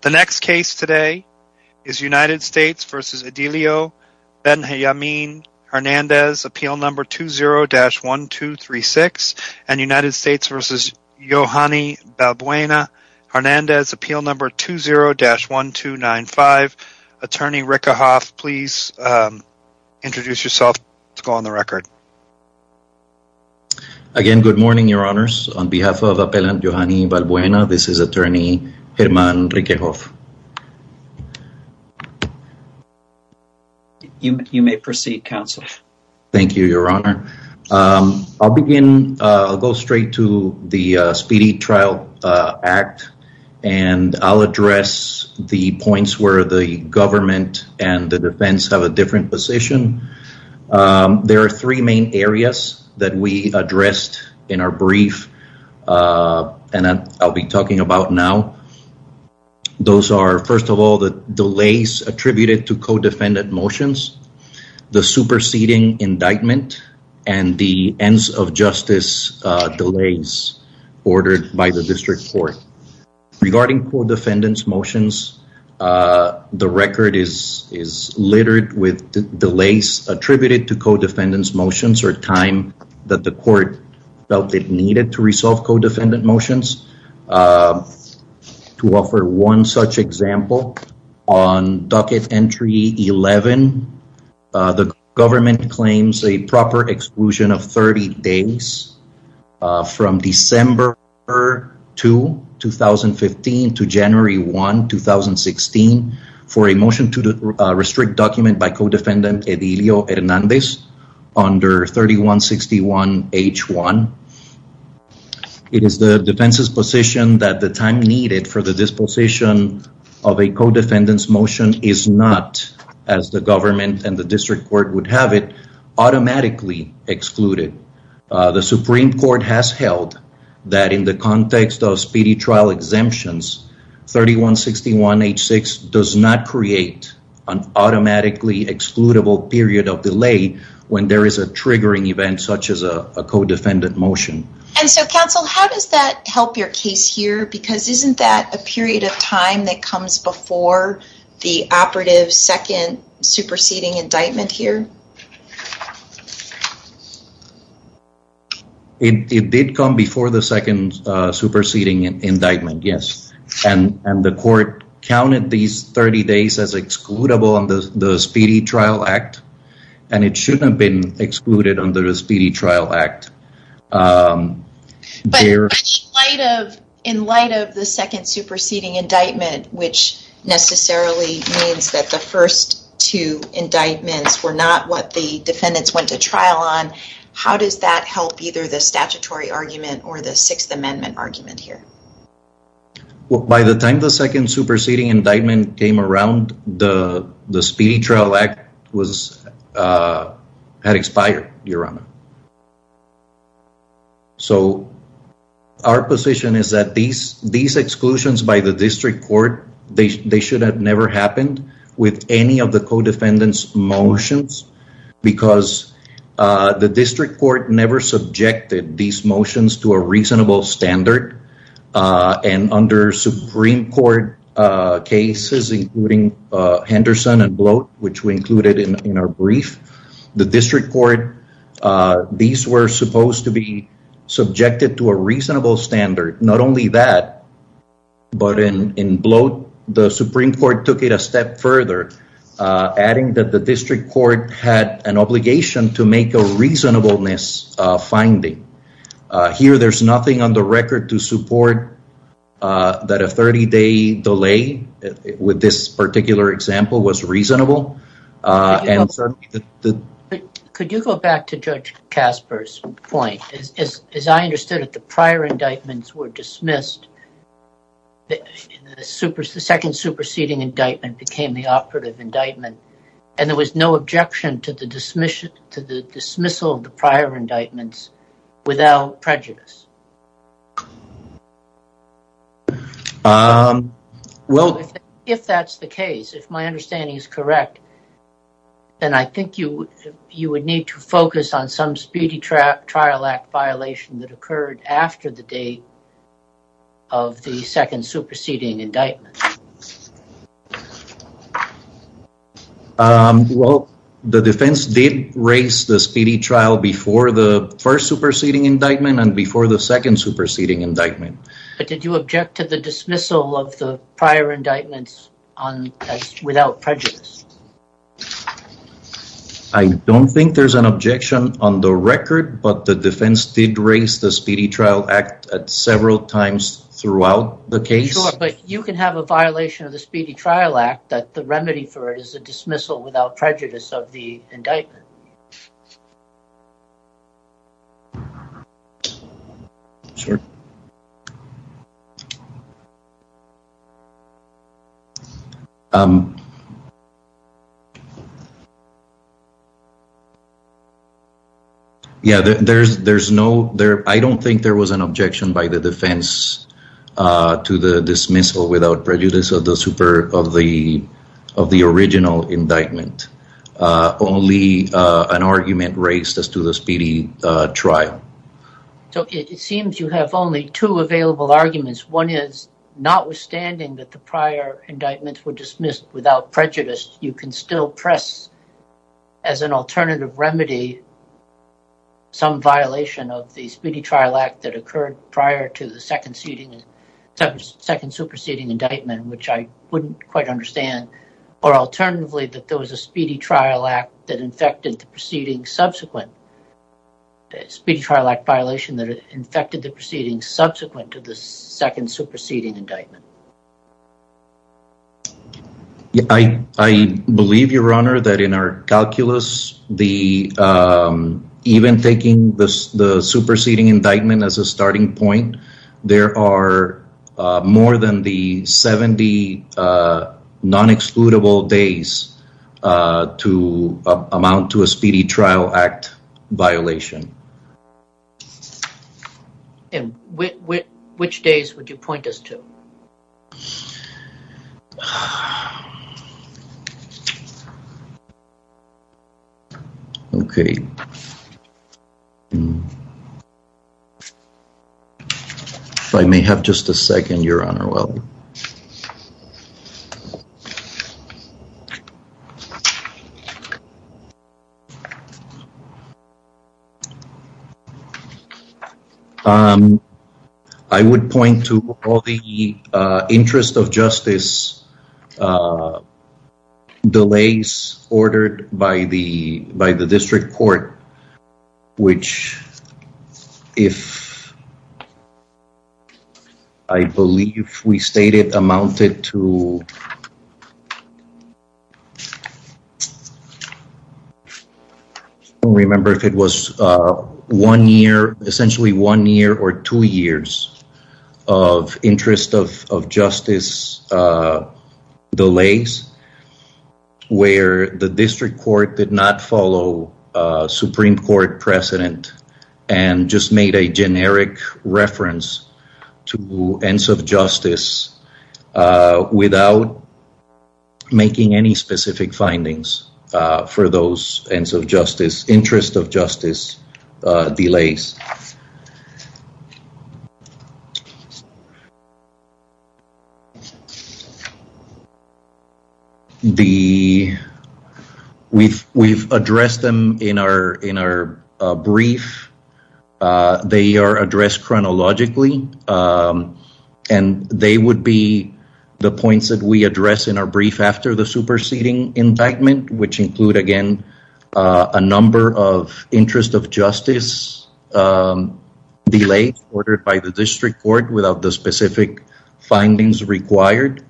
The next case today is United States v. Edilio Benjamin-Hernandez, Appeal No. 20-1236, and United States v. Yohani Balbuena-Hernandez, Appeal No. 20-1295. Attorney Rickerhoff, please introduce yourself to go on the record. On behalf of Appellant Yohani Balbuena, this is Attorney Herman Rickerhoff. You may proceed, Counselor. Thank you, Your Honor. I'll begin, I'll go straight to the Speedy Trial Act, and I'll address the points where the government and the defense have a different position. There are three main areas that we addressed in our brief, and I'll be talking about now. Those are, first of all, the delays attributed to co-defendant motions, the superseding indictment, and the ends of justice delays ordered by the District Court. Regarding co-defendant motions, the record is littered with delays attributed to co-defendant motions or time that the court felt it needed to resolve co-defendant motions. To offer one such example, on Ducat Entry 11, the government claims a proper exclusion of 30 days from December 2, 2015, to January 1, 2016, for a motion to restrict document by co-defendant Edilio Hernandez under 3161H1. It is the defense's position that the time needed for the disposition of a co-defendant's as the government and the District Court would have it, automatically excluded. The Supreme Court has held that in the context of Speedy Trial exemptions, 3161H6 does not create an automatically excludable period of delay when there is a triggering event such as a co-defendant motion. Counsel, how does that help your case here, because isn't that a period of time that comes before the operative second superseding indictment here? It did come before the second superseding indictment, yes. And the court counted these 30 days as excludable under the Speedy Trial Act, and it shouldn't have been excluded under the Speedy Trial Act. But in light of the second superseding indictment, which necessarily means that the first two indictments were not what the defendants went to trial on, how does that help either the statutory argument or the Sixth Amendment argument here? By the time the second superseding indictment came around, the Speedy Trial Act had expired, Your Honor. So our position is that these exclusions by the district court, they should have never happened with any of the co-defendants motions, because the district court never subjected these motions to a reasonable standard. And under Supreme Court cases, including Henderson and Bloat, which we included in our brief, the district court, these were supposed to be subjected to a reasonable standard. Not only that, but in Bloat, the Supreme Court took it a step further, adding that the district court had an obligation to make a reasonableness finding. Here there's nothing on the record to support that a 30-day delay with this particular example was reasonable. Could you go back to Judge Kasper's point? As I understood it, the prior indictments were dismissed, the second superseding indictment became the operative indictment, and there was no objection to the dismissal of the prior indictments without prejudice? If that's the case, if my understanding is correct, then I think you would need to focus on some Speedy Trial Act violation that occurred after the date of the second superseding indictment. Well, the defense did raise the Speedy Trial before the first superseding indictment and before the second superseding indictment. Did you object to the dismissal of the prior indictments without prejudice? I don't think there's an objection on the record, but the defense did raise the Speedy Trial Act at several times throughout the case. You can have a violation of the Speedy Trial Act that the remedy for it is a dismissal without prejudice of the indictment. I don't think there was an objection by the defense to the dismissal without prejudice of the original indictment. Only an argument raised as to the Speedy Trial. It seems you have only two available arguments. One is, notwithstanding that the prior indictments were dismissed without prejudice, you can still press as an alternative remedy some violation of the Speedy Trial Act that occurred prior to the second superseding indictment, which I wouldn't quite understand, or alternatively that there was a Speedy Trial Act violation that infected the proceedings subsequent to the second superseding indictment. I believe, Your Honor, that in our calculus, even taking the superseding indictment as a starting point, there are more than the 70 non-excludable days to amount to a Speedy Trial Act violation. And which days would you point us to? If I may have just a second, Your Honor. Well, I would point to all the interest of justice delays ordered by the district court, which, if I believe we stated, amounted to, I don't remember if it was one year, essentially one year or two years of interest of justice delays where the district court did not follow Supreme Court precedent and just made a generic reference to ends of justice without making any specific findings for those ends of justice, interest of justice delays. We've addressed them in our brief. They are addressed chronologically and they would be the points that we address in our superseding indictment, which include, again, a number of interest of justice delays ordered by the district court without the specific findings required.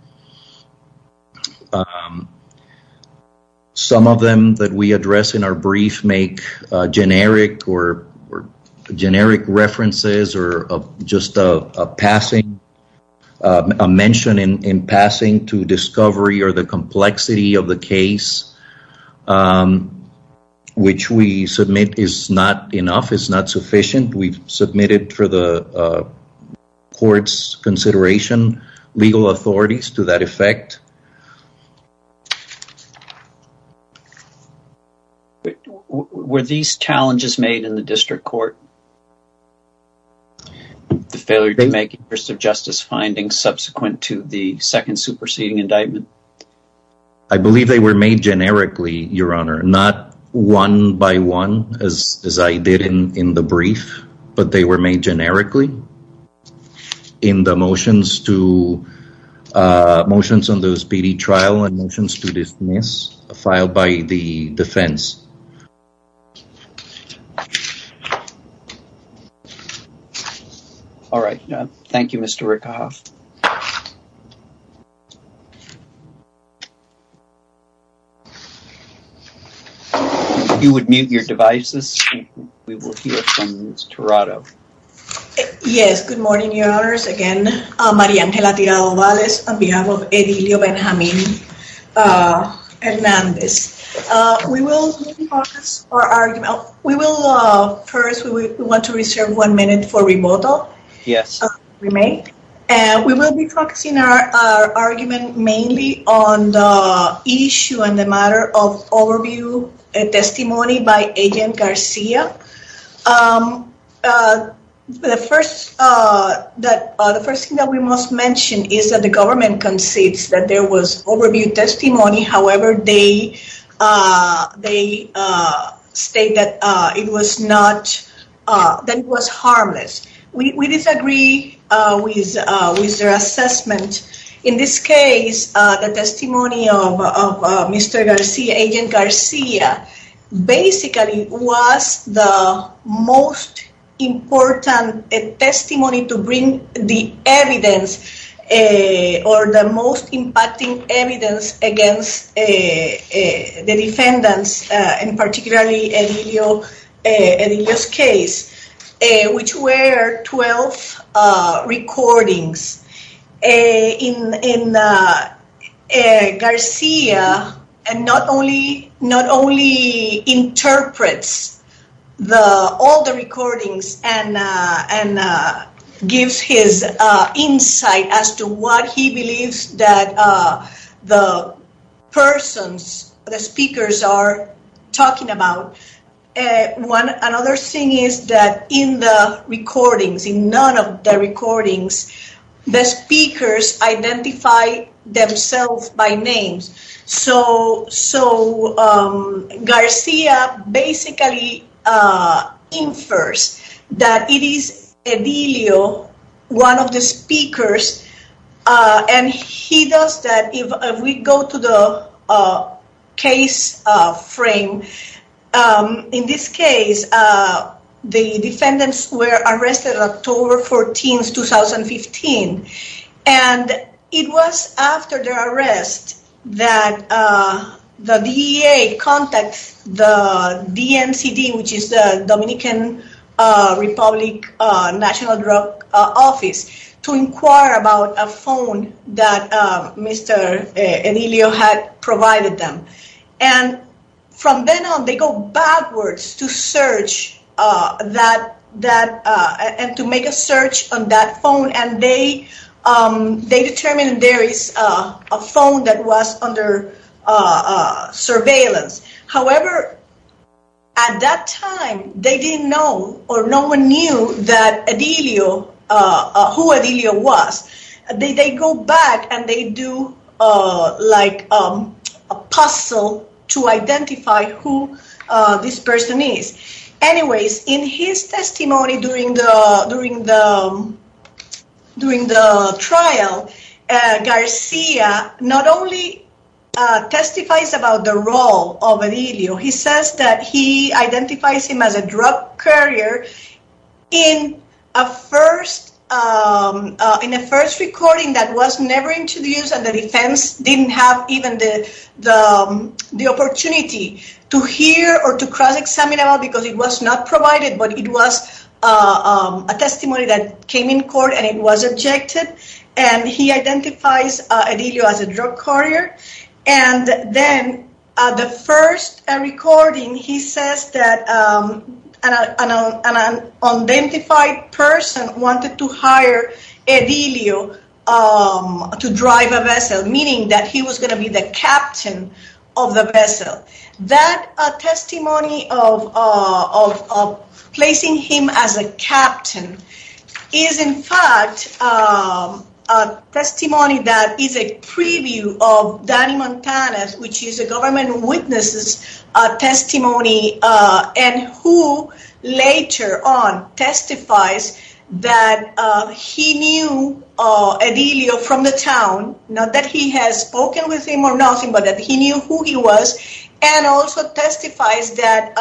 Some of them that we address in our brief make generic references or just a mention in passing to discovery or the complexity of the case, which we submit is not enough, is not sufficient. We've submitted for the court's consideration, legal authorities to that effect. Were these challenges made in the district court, the failure to make interest of justice findings subsequent to the second superseding indictment? I believe they were made generically, Your Honor, not one by one as I did in the brief, but they were made generically in the motions to, motions on those PD trial and motions to dismiss filed by the defense. All right. Thank you, Mr. Rickhoff. You would mute your devices. We will hear from Ms. Tirado. Yes. Good morning, Your Honors. Again, Maria Angela Tirado-Valez on behalf of Edilio Benjamin Hernandez. We will focus our argument. We will first, we want to reserve one minute for remodel. Yes. We may. We will be focusing our argument mainly on the issue and the matter of overview testimony by Agent Garcia. The first thing that we must mention is that the government concedes that there was overview testimony, however, they state that it was not, that it was harmless. We disagree with their assessment. In this case, the testimony of Mr. Garcia, Agent Garcia, basically was the most important testimony to bring the evidence or the most impacting evidence against the defendants and particularly Edilio's case, which were 12 recordings. In Garcia, not only interprets all the recordings and gives his insight as to what he believes that the persons, the speakers are talking about, another thing is that in the recordings, in none of the recordings, the speakers identify themselves by names. Garcia basically infers that it is Edilio, one of the speakers, and he does that. We go to the case frame. In this case, the defendants were arrested October 14, 2015, and it was after their arrest that the DEA contacts the DMCD, which is the Dominican Republic National Drug to inquire about a phone that Mr. Edilio had provided them. From then on, they go backwards to search and to make a search on that phone. They determined there is a phone that was under surveillance. However, at that time, they didn't know or no one knew who Edilio was. They go back and they do a puzzle to identify who this person is. Anyways, in his testimony during the trial, Garcia not only testifies about the role of Edilio, he says that he identifies him as a drug courier in a first recording that was never introduced and the defense didn't have even the opportunity to hear or to cross-examine about because it was not provided, but it was a testimony that came in court and it was objected, and he identifies Edilio as a drug courier. Then the first recording, he says that an unidentified person wanted to hire Edilio to drive a vessel, meaning that he was going to be the captain of the vessel. That testimony of placing him as a captain is, in fact, a testimony that is a preview of Danny Montanez, which is a government witness's testimony and who later on testifies that he knew Edilio from the town, not that he has spoken with him or nothing, but that he knew who he was and also testifies that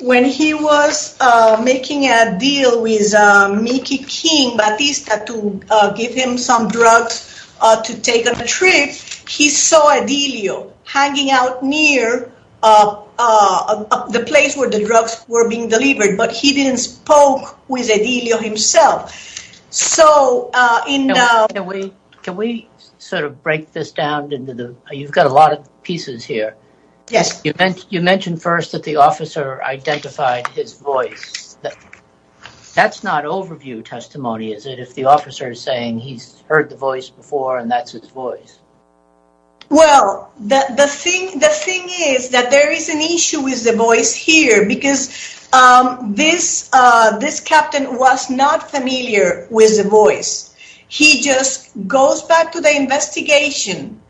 when he was making a deal with Mickey King, Batista, to give him some drugs to take on a trip, he saw Edilio hanging out near the place where the drugs were being delivered, but he didn't spoke with Edilio himself. Can we break this down? You've got a lot of pieces here. Yes. You mentioned first that the officer identified his voice. That's not overview testimony, is it, if the officer is saying he's heard the voice before and that's his voice? Well, the thing is that there is an issue with the voice here because this captain was not familiar with the voice. He just goes back to the investigation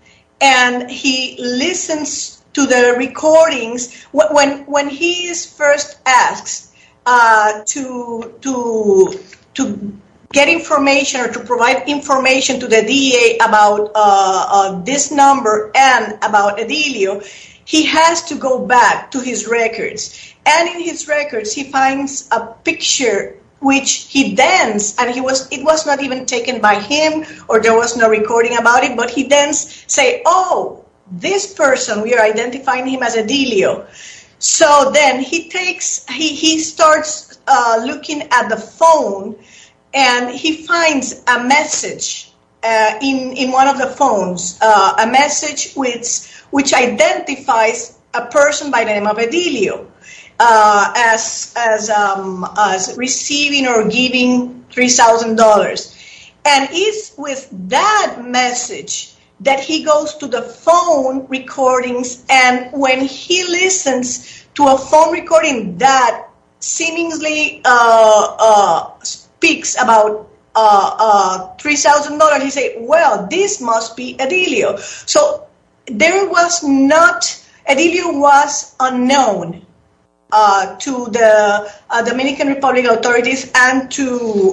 and he listens to the recordings. When he is first asked to get information or to provide information to the DEA about this number and about Edilio, he has to go back to his records. In his records, he finds a picture in which he danced. It was not even taken by him or there was no recording about it, but he danced saying, oh, this person, we are identifying him as Edilio. So then he starts looking at the phone and he finds a message in one of the phones, a message which identifies a person by the name of Edilio as receiving or giving $3,000. And it's with that message that he goes to the phone recordings and when he listens to a phone recording that seemingly speaks about $3,000, he says, well, this must be Edilio. So Edilio was unknown to the Dominican Republic authorities and to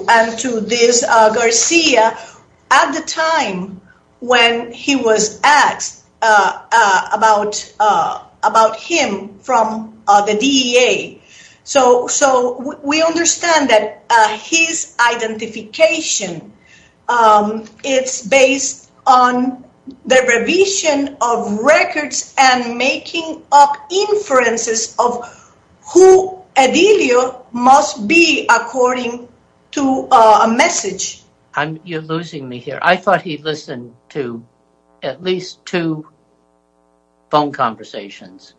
this Garcia at the time when he was asked about him from the DEA. So we understand that his identification is based on the revision of records and making up inferences of who Edilio must be according to a message. You're losing me here. I thought he listened to at least two phone conversations.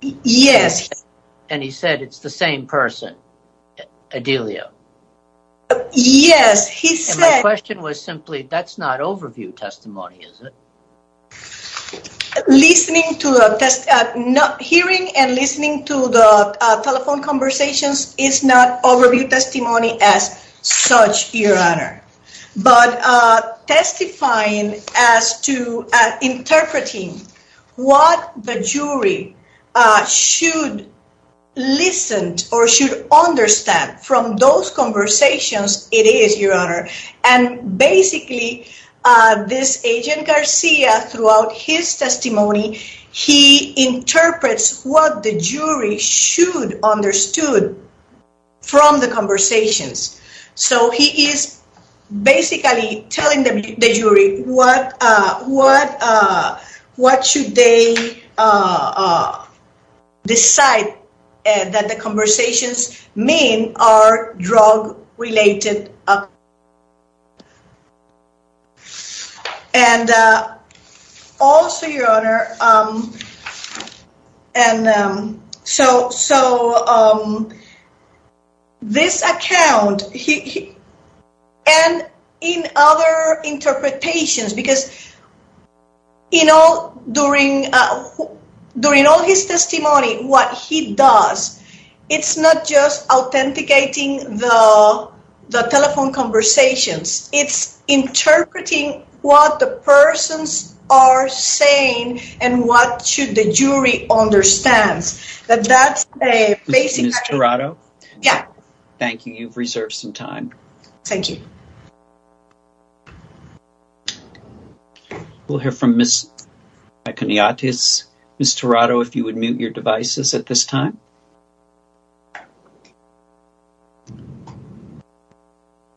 Yes. And he said it's the same person, Edilio. Yes, he said. My question was simply, that's not overview testimony, is it? Listening to a hearing and listening to the telephone conversations is not overview testimony as such, Your Honor. But testifying as to interpreting what the jury should listen or should understand from those conversations, it is, Your Honor. And basically, this agent Garcia throughout his testimony, he interprets what the jury should understood from the conversations. So he is basically telling the jury what should they decide that the conversations mean are drug related. And also, Your Honor, and so this account and in other interpretations, because during all his testimony, what he does, it's not just authenticating the telephone conversations. It's interpreting what the persons are saying and what should the jury understand. That's a basic- Ms. Tirado? Yeah. Thank you. You've reserved some time. Thank you. We'll hear from Ms. Maconiatis. Ms. Tirado, if you would mute your devices at this time.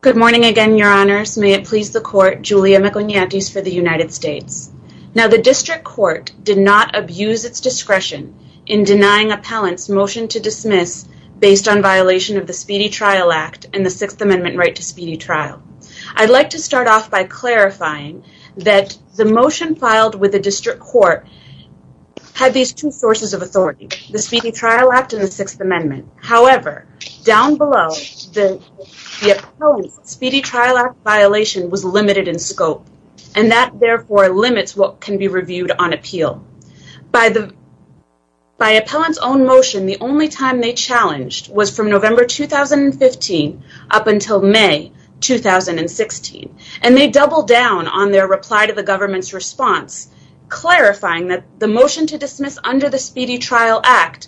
Good morning again, Your Honors. May it please the court, Julia Maconiatis for the United States. Now, the district court did not abuse its discretion in denying appellant's motion to dismiss based on violation of the Speedy Trial Act and the Sixth Amendment right to speedy trial. I'd like to start off by clarifying that the motion filed with the district court had these two sources of authority, the Speedy Trial Act and the Sixth Amendment. However, down below, the appellant's Speedy Trial Act violation was limited in scope. That, therefore, limits what can be reviewed on appeal. By appellant's own motion, the only time they challenged was from November 2015 up until May 2016. They doubled down on their reply to the government's response, clarifying that the motion to dismiss under the Speedy Trial Act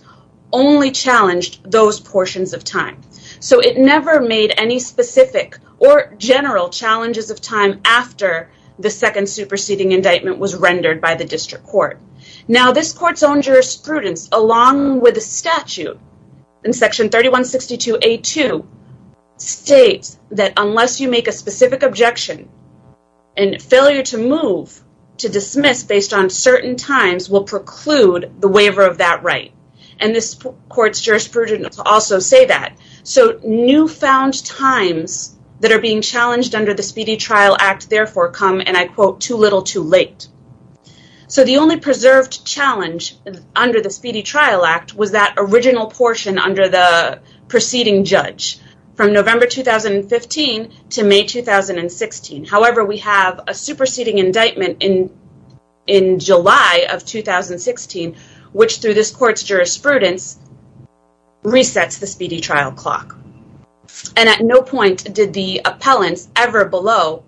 only challenged those portions of time. It never made any specific or general challenges of time after the second superseding indictment was rendered by the district court. Now, this court's own jurisprudence, along with a statute in Section 3162A2, states that unless you make a specific objection, a failure to move to dismiss based on certain times will preclude the waiver of that right. And this court's jurisprudence also say that. So newfound times that are being challenged under the Speedy Trial Act, therefore, come, and I quote, too little too late. So the only preserved challenge under the Speedy Trial Act was that original portion under the preceding judge from November 2015 to May 2016. However, we have a superseding indictment in July of 2016, which through this court's jurisprudence resets the Speedy Trial Clock. And at no point did the appellants ever below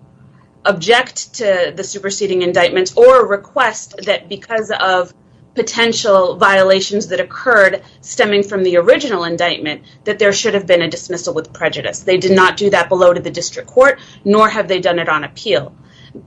object to the superseding indictments or request that because of potential violations that occurred stemming from the original indictment, that there should have been a dismissal with prejudice. They did not do that below to the district court, nor have they done it on appeal.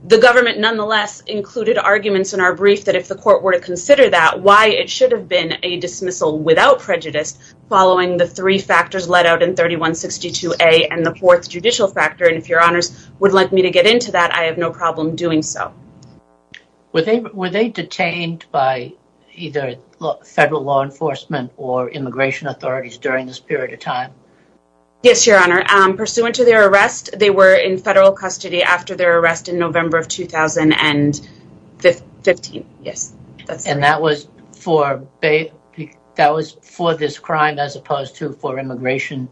The government nonetheless included arguments in our brief that if the court were to consider that, why it should have been a dismissal without prejudice following the three factors let out in 3162A and the fourth judicial factor. And if your honors would like me to get into that, I have no problem doing so. Were they detained by either federal law enforcement or immigration authorities during this period of time? Yes, your honor. Pursuant to their arrest, they were in federal custody after their arrest in November of 2015. And that was for this crime as opposed to for immigration?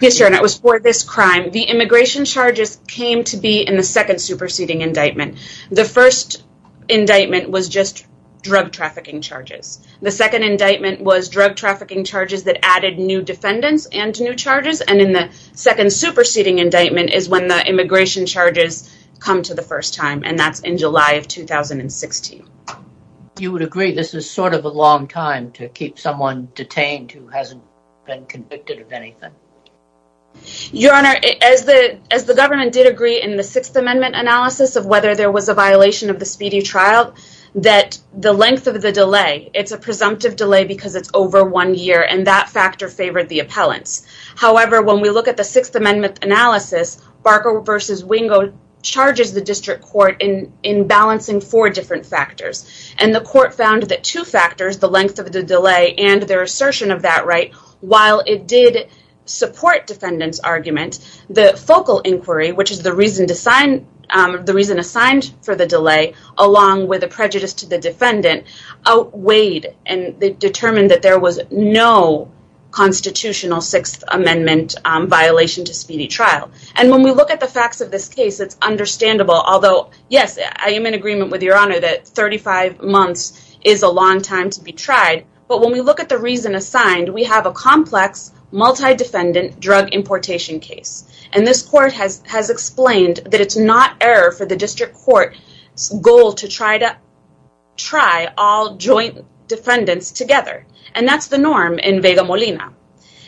Yes, your honor. It was for this crime. The immigration charges came to be in the second superseding indictment. The first indictment was just drug trafficking charges. The second indictment was drug trafficking charges that added new defendants and new charges. And in the second superseding indictment is when the immigration charges come to the first time and that's in July of 2016. You would agree this is sort of a long time to keep someone detained who hasn't been convicted of anything? Your honor, as the government did agree in the sixth amendment analysis of whether there was a violation of the speedy trial, that the length of the delay, it's a presumptive delay because it's over one year and that factor favored the appellants. However, when we look at the sixth amendment analysis, Barker v. Wingo charges the district court in balancing four different factors. And the court found that two factors, the length of the delay and their assertion of that right, while it did support defendant's argument, the focal inquiry, which is the reason assigned for the delay, along with a prejudice to the defendant, outweighed and determined that there was no constitutional sixth amendment violation to speedy trial. And when we look at the facts of this case, it's understandable, although yes, I am in agreement with your honor that 35 months is a long time to be tried. But when we look at the reason assigned, we have a complex multi-defendant drug importation case. And this court has explained that it's not error for the district court's goal to try all joint defendants together. And that's the norm in Vega Molina.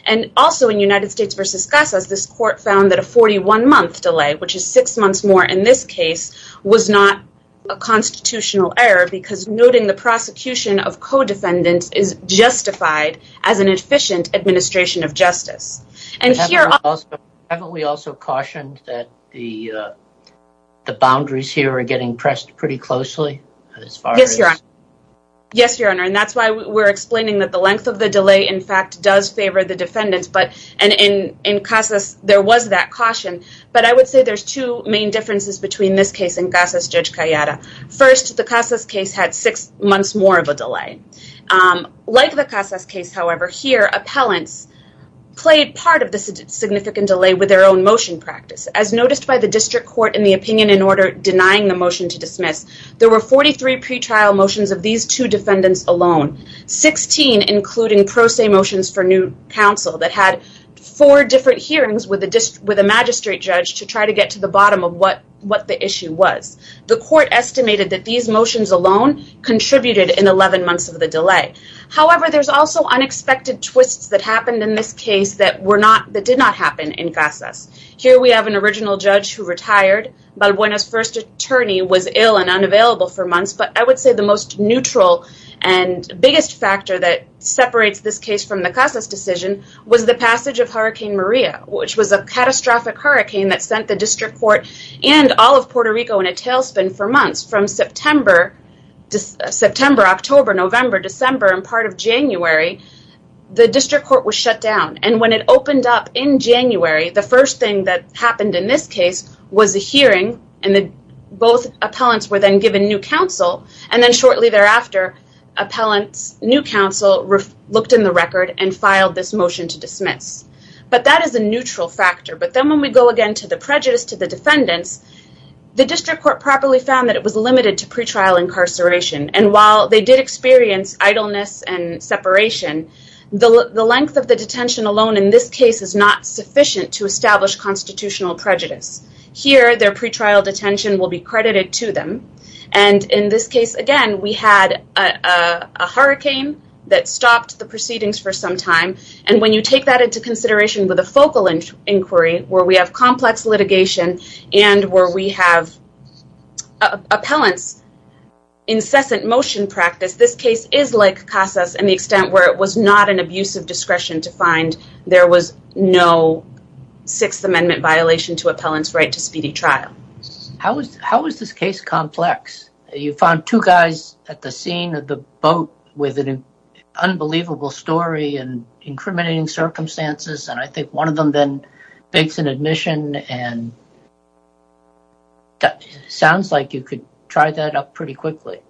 And also in United States v. Casas, this court found that a 41 month delay, which is six months more in this case, was not a constitutional error because noting the prosecution of co-defendants is justified as an efficient administration of justice. And here... Haven't we also cautioned that the boundaries here are getting pressed pretty closely? Yes, your honor. And that's why we're explaining that the length of the delay, in fact, does favor the defendants. And in Casas, there was that caution. But I would say there's two main differences between this case and Casas Judge Cayeta. First, the Casas case had six months more of a delay. Like the Casas case, however, here, appellants played part of the significant delay with their own motion practice. As noticed by the district court in the opinion in order denying the motion to dismiss, there were 43 pretrial motions of these two defendants alone, 16 including pro se motions for new counsel that had four different hearings with a magistrate judge to try to get to the bottom of what the issue was. The court estimated that these motions alone contributed in 11 months of the delay. However, there's also unexpected twists that happened in this case that did not happen in Casas. Here, we have an original judge who retired. Balbuena's first attorney was ill and unavailable for months. But I would say the most neutral and biggest factor that separates this case from the Casas decision was the passage of Hurricane Maria, which was a catastrophic hurricane that sent the district court and all of Puerto Rico in a tailspin for months. From September, October, November, December, and part of January, the district court was shut down. And when it opened up in January, the first thing that happened in this case was a hearing, and both appellants were then given new counsel. And then shortly thereafter, appellants, new counsel looked in the record and filed this motion to dismiss. But that is a neutral factor. But then when we go again to the prejudice to the defendants, the district court properly found that it was limited to pretrial incarceration. And while they did experience idleness and separation, the length of the detention alone in this case is not sufficient to establish constitutional prejudice. Here, their pretrial detention will be credited to them. And in this case, again, we had a hurricane that stopped the proceedings for some time. And when you take that into consideration with a focal inquiry, where we have complex litigation and where we have appellants' incessant motion practice, this case is like Casas in the extent where it was not an abusive discretion to find there was no Sixth Amendment violation to appellants' right to speedy trial. How was this case complex? You found two guys at the scene of the boat with an unbelievable story and incriminating circumstances. And I think one of them then begs an admission. And that sounds like you could try that up pretty quickly.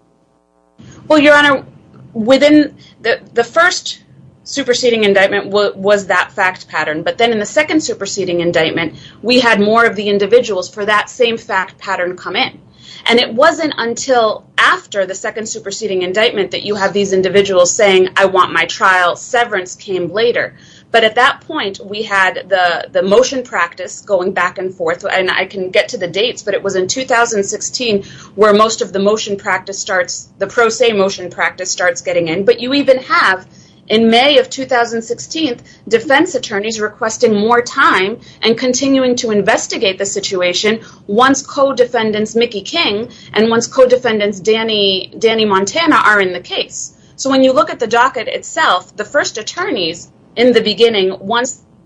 Well, Your Honor, within the first superseding indictment was that fact pattern. But then in the second superseding indictment, we had more of the individuals for that same fact pattern come in. And it wasn't until after the second superseding indictment that you have these individuals saying, I want my trial. Severance came later. But at that point, we had the motion practice going back and forth. And I can get to the dates, but it was in 2016 where most of the motion practice starts, the pro se motion practice starts getting in. But you even have, in May of 2016, defense attorneys requesting more time and continuing to investigate the situation once co-defendants Mickey King and once co-defendants Danny Montana are in the case. So when you look at the docket itself, the first attorneys in the beginning,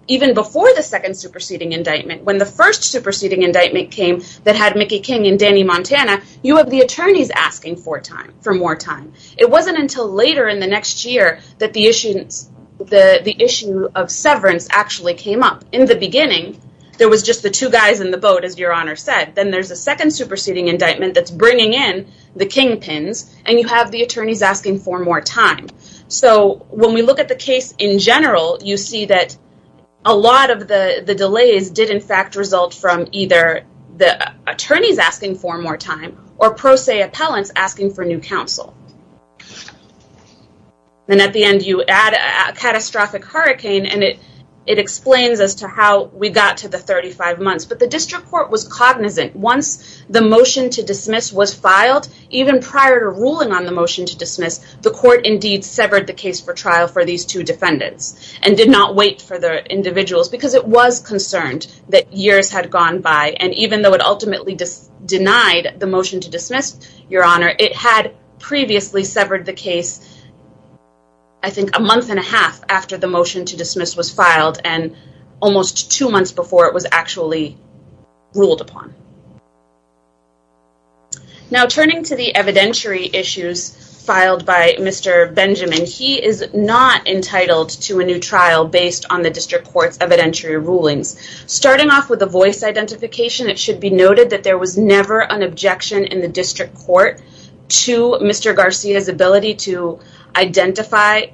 even before the second superseding indictment, when the first superseding indictment came that had Mickey King and Danny Montana, you have the attorneys asking for more time. It wasn't until later in the next year that the issue of severance actually came up. In the beginning, there was just the two guys in the boat, as Your Honor said. Then there's a second time. So when we look at the case in general, you see that a lot of the delays did in fact result from either the attorneys asking for more time or pro se appellants asking for new counsel. Then at the end, you add a catastrophic hurricane and it explains as to how we got to the 35 months, but the district court was cognizant. Once the motion to dismiss was filed, even prior to ruling on the motion to dismiss, the court indeed severed the case for trial for these two defendants and did not wait for the individuals because it was concerned that years had gone by. And even though it ultimately denied the motion to dismiss, Your Honor, it had previously severed the case, I think a month and a half after the motion to dismiss was filed and almost two months before it was actually ruled upon. Now turning to the evidentiary issues filed by Mr. Benjamin, he is not entitled to a new trial based on the district court's evidentiary rulings. Starting off with the voice identification, it should be noted that there was never an objection in the district court to Mr. Garcia's ability to identify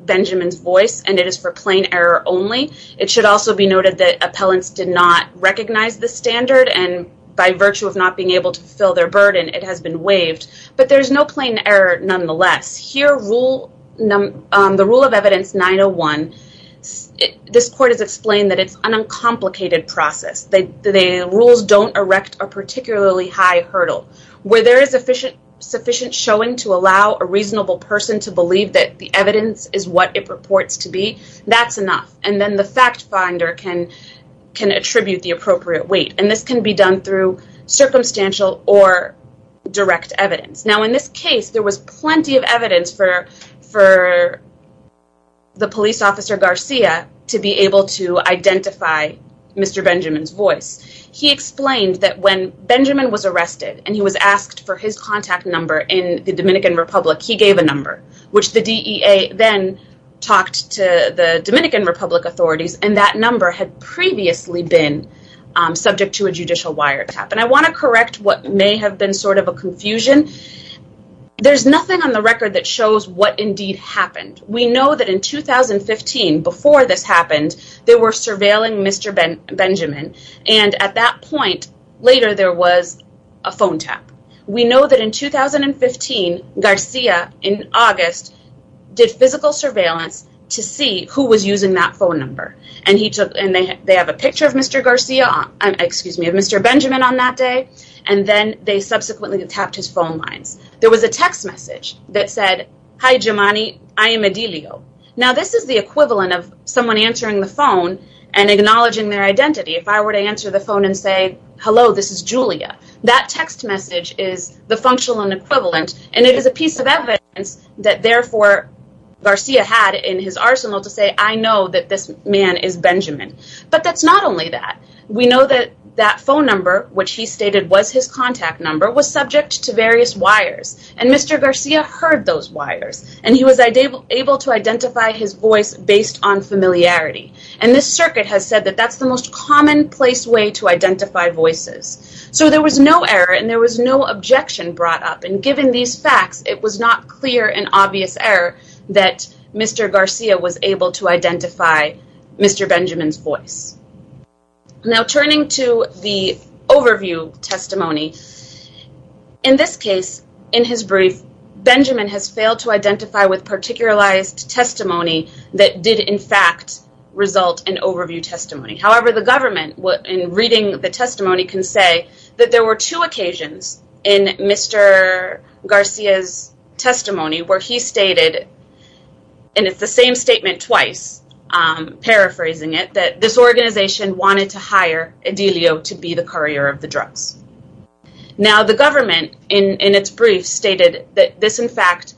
Benjamin's voice and it is for plain error only. It should also be noted that appellants did not recognize the standard and by virtue of not being able to fulfill their burden, it has been waived, but there's no plain error nonetheless. Here, the rule of evidence 901, this court has explained that it's an uncomplicated process. The rules don't erect a particularly high hurdle. Where there is sufficient showing to allow a reasonable person to believe that the evidence is what it purports to be, that's enough and then the fact finder can attribute the appropriate weight and this can be done through circumstantial or direct evidence. Now in this case, there was plenty of evidence for the police officer Garcia to be able to identify Mr. Benjamin's voice. He explained that when Benjamin was arrested and he was asked for his contact number in the Dominican Republic, he gave a number which the DEA then talked to the Dominican Republic authorities and that number had previously been subject to a judicial wiretap and I want to correct what may have been sort of a confusion. There's nothing on the record that shows what indeed happened. We know that in 2015, before this happened, they were surveilling Mr. Benjamin and at that point later there was a phone tap. We know that in 2015, Garcia in August did physical surveillance to see who was using that phone number and they have a picture of Mr. Benjamin on that day and then they subsequently tapped his phone lines. There was a text message that said, hi Jomani, I am Edilio. Now this is the equivalent of someone answering the phone and acknowledging their identity. If I were to answer the phone and say, hello this is Julia, that text message is the functional and equivalent and it is a piece of evidence that therefore Garcia had in his arsenal to say I know that this man is Benjamin. But that's not only that. We know that that phone number, which he stated was his contact number, was subject to various wires and Mr. Garcia heard those wires and he was able to identify his voice based on familiarity and this circuit has said that that's the most commonplace way to identify voices. So there was no error and there was no objection brought up and given these facts, it was not clear and obvious error that Mr. Garcia was able to identify Mr. Benjamin's voice. Now turning to the overview testimony, in this case, in his brief, Benjamin has failed to identify with did in fact result in overview testimony. However, the government, in reading the testimony, can say that there were two occasions in Mr. Garcia's testimony where he stated, and it's the same statement twice, paraphrasing it, that this organization wanted to hire Edilio to be the courier of the drugs. Now the government, in its brief, stated that this in fact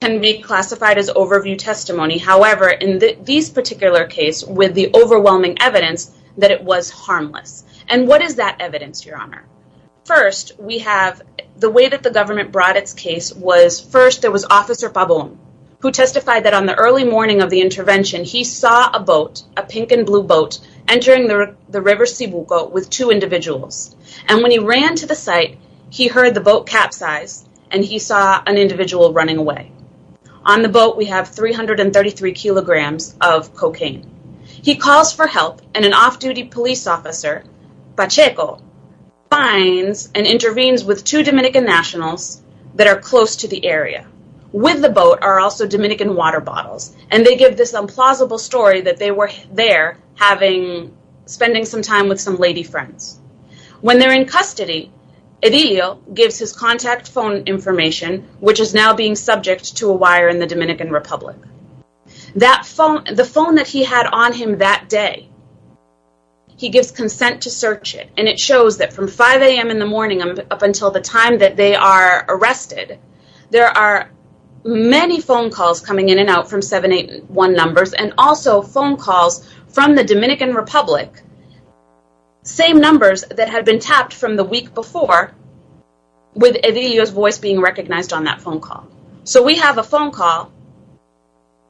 can be classified as overview testimony. However, in this particular case, with the overwhelming evidence, that it was harmless. And what is that evidence, Your Honor? First, we have the way that the government brought its case was, first, there was Officer Pabon, who testified that on the early morning of the intervention, he saw a boat, a pink and blue boat, entering the river Cebuco with two individuals. And when he ran to the site, he heard the boat capsize and he saw an individual running away. On the boat, we have 333 kilograms of cocaine. He calls for help and an off-duty police officer, Pacheco, finds and intervenes with two Dominican nationals that are close to the area. With the boat are also Dominican water bottles, and they give this implausible story that they were there having, spending some time with some lady friends. When they're in custody, Edilio gives his contact phone information, which is now being subject to a wire in the Dominican Republic. The phone that he had on him that day, he gives consent to search it. And it shows that from 5 a.m. in the morning up until the time that they are arrested, there are many phone calls coming in and out from 781 numbers and also phone calls from the Dominican Republic, same numbers that had been tapped from the week before with Edilio's voice being recognized on that phone call. So we have a phone call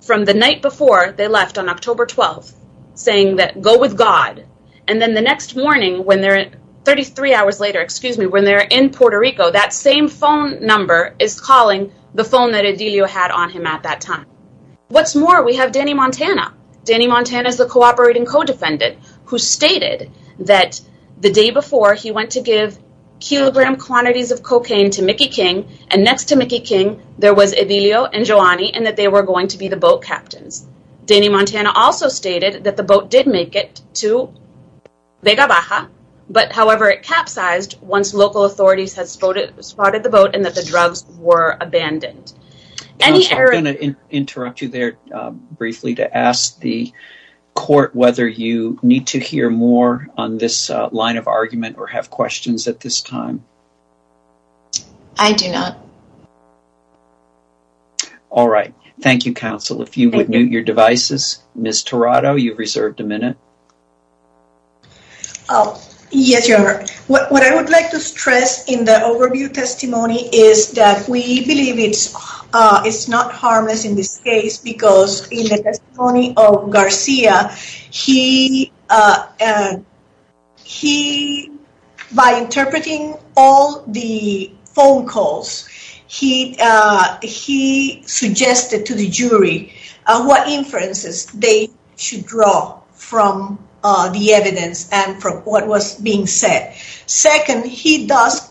from the night before they left on October 12th, saying that go with God. And then the next morning when they're at 33 hours later, excuse me, when they're in Puerto Rico, that same phone number is calling the phone that Edilio had on him at that time. What's more, we have Danny Montana. Danny Montana also stated that the boat did make it to Vega Baja, but however, it capsized once local authorities had spotted the boat and that the drugs were abandoned. I'm going to interrupt you there briefly to ask the court whether you need to hear more on this line of argument or have questions at this time. I do not. All right. Thank you, counsel. If you would mute your devices. Ms. Tirado, you've reserved a minute. Yes, Your Honor. What I would like to stress in the overview testimony is that we believe it's not harmless in this case because in the testimony of Garcia, by interpreting all the phone calls, he suggested to the jury what inferences they should draw from the evidence and from what was being said. Second, he does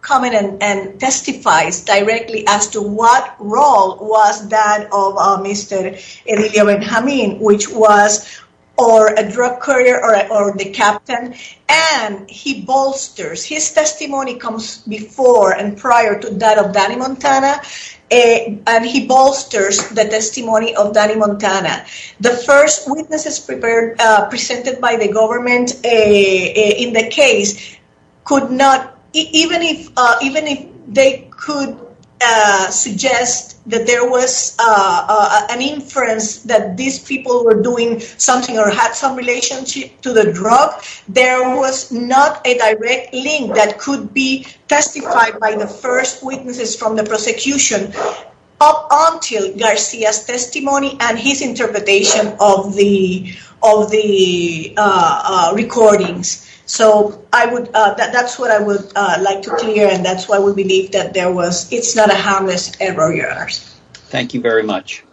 comment and testifies directly as to what role was that of Mr. Edilio Benjamin, which was a drug courier or the captain, and he bolsters. His testimony comes before and prior to that of Danny Montana, and he bolsters the testimony of Danny Montana. The first witnesses presented by the government in the case could not, even if they could suggest that there was an inference that these people were doing something or had some relationship to the drug, there was not a direct link that could be testified by the first witnesses from the prosecution up until Garcia's testimony and his testimony. That's what I would like to clear and that's why we believe that there was, it's not a harmless error, Your Honor. Thank you very much.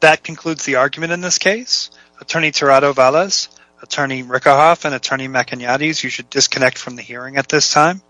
That concludes the argument in this case. Attorney Tirado Valles, Attorney Rickerhoff, and Attorney MacIgnatis, you should disconnect from the hearing at this time.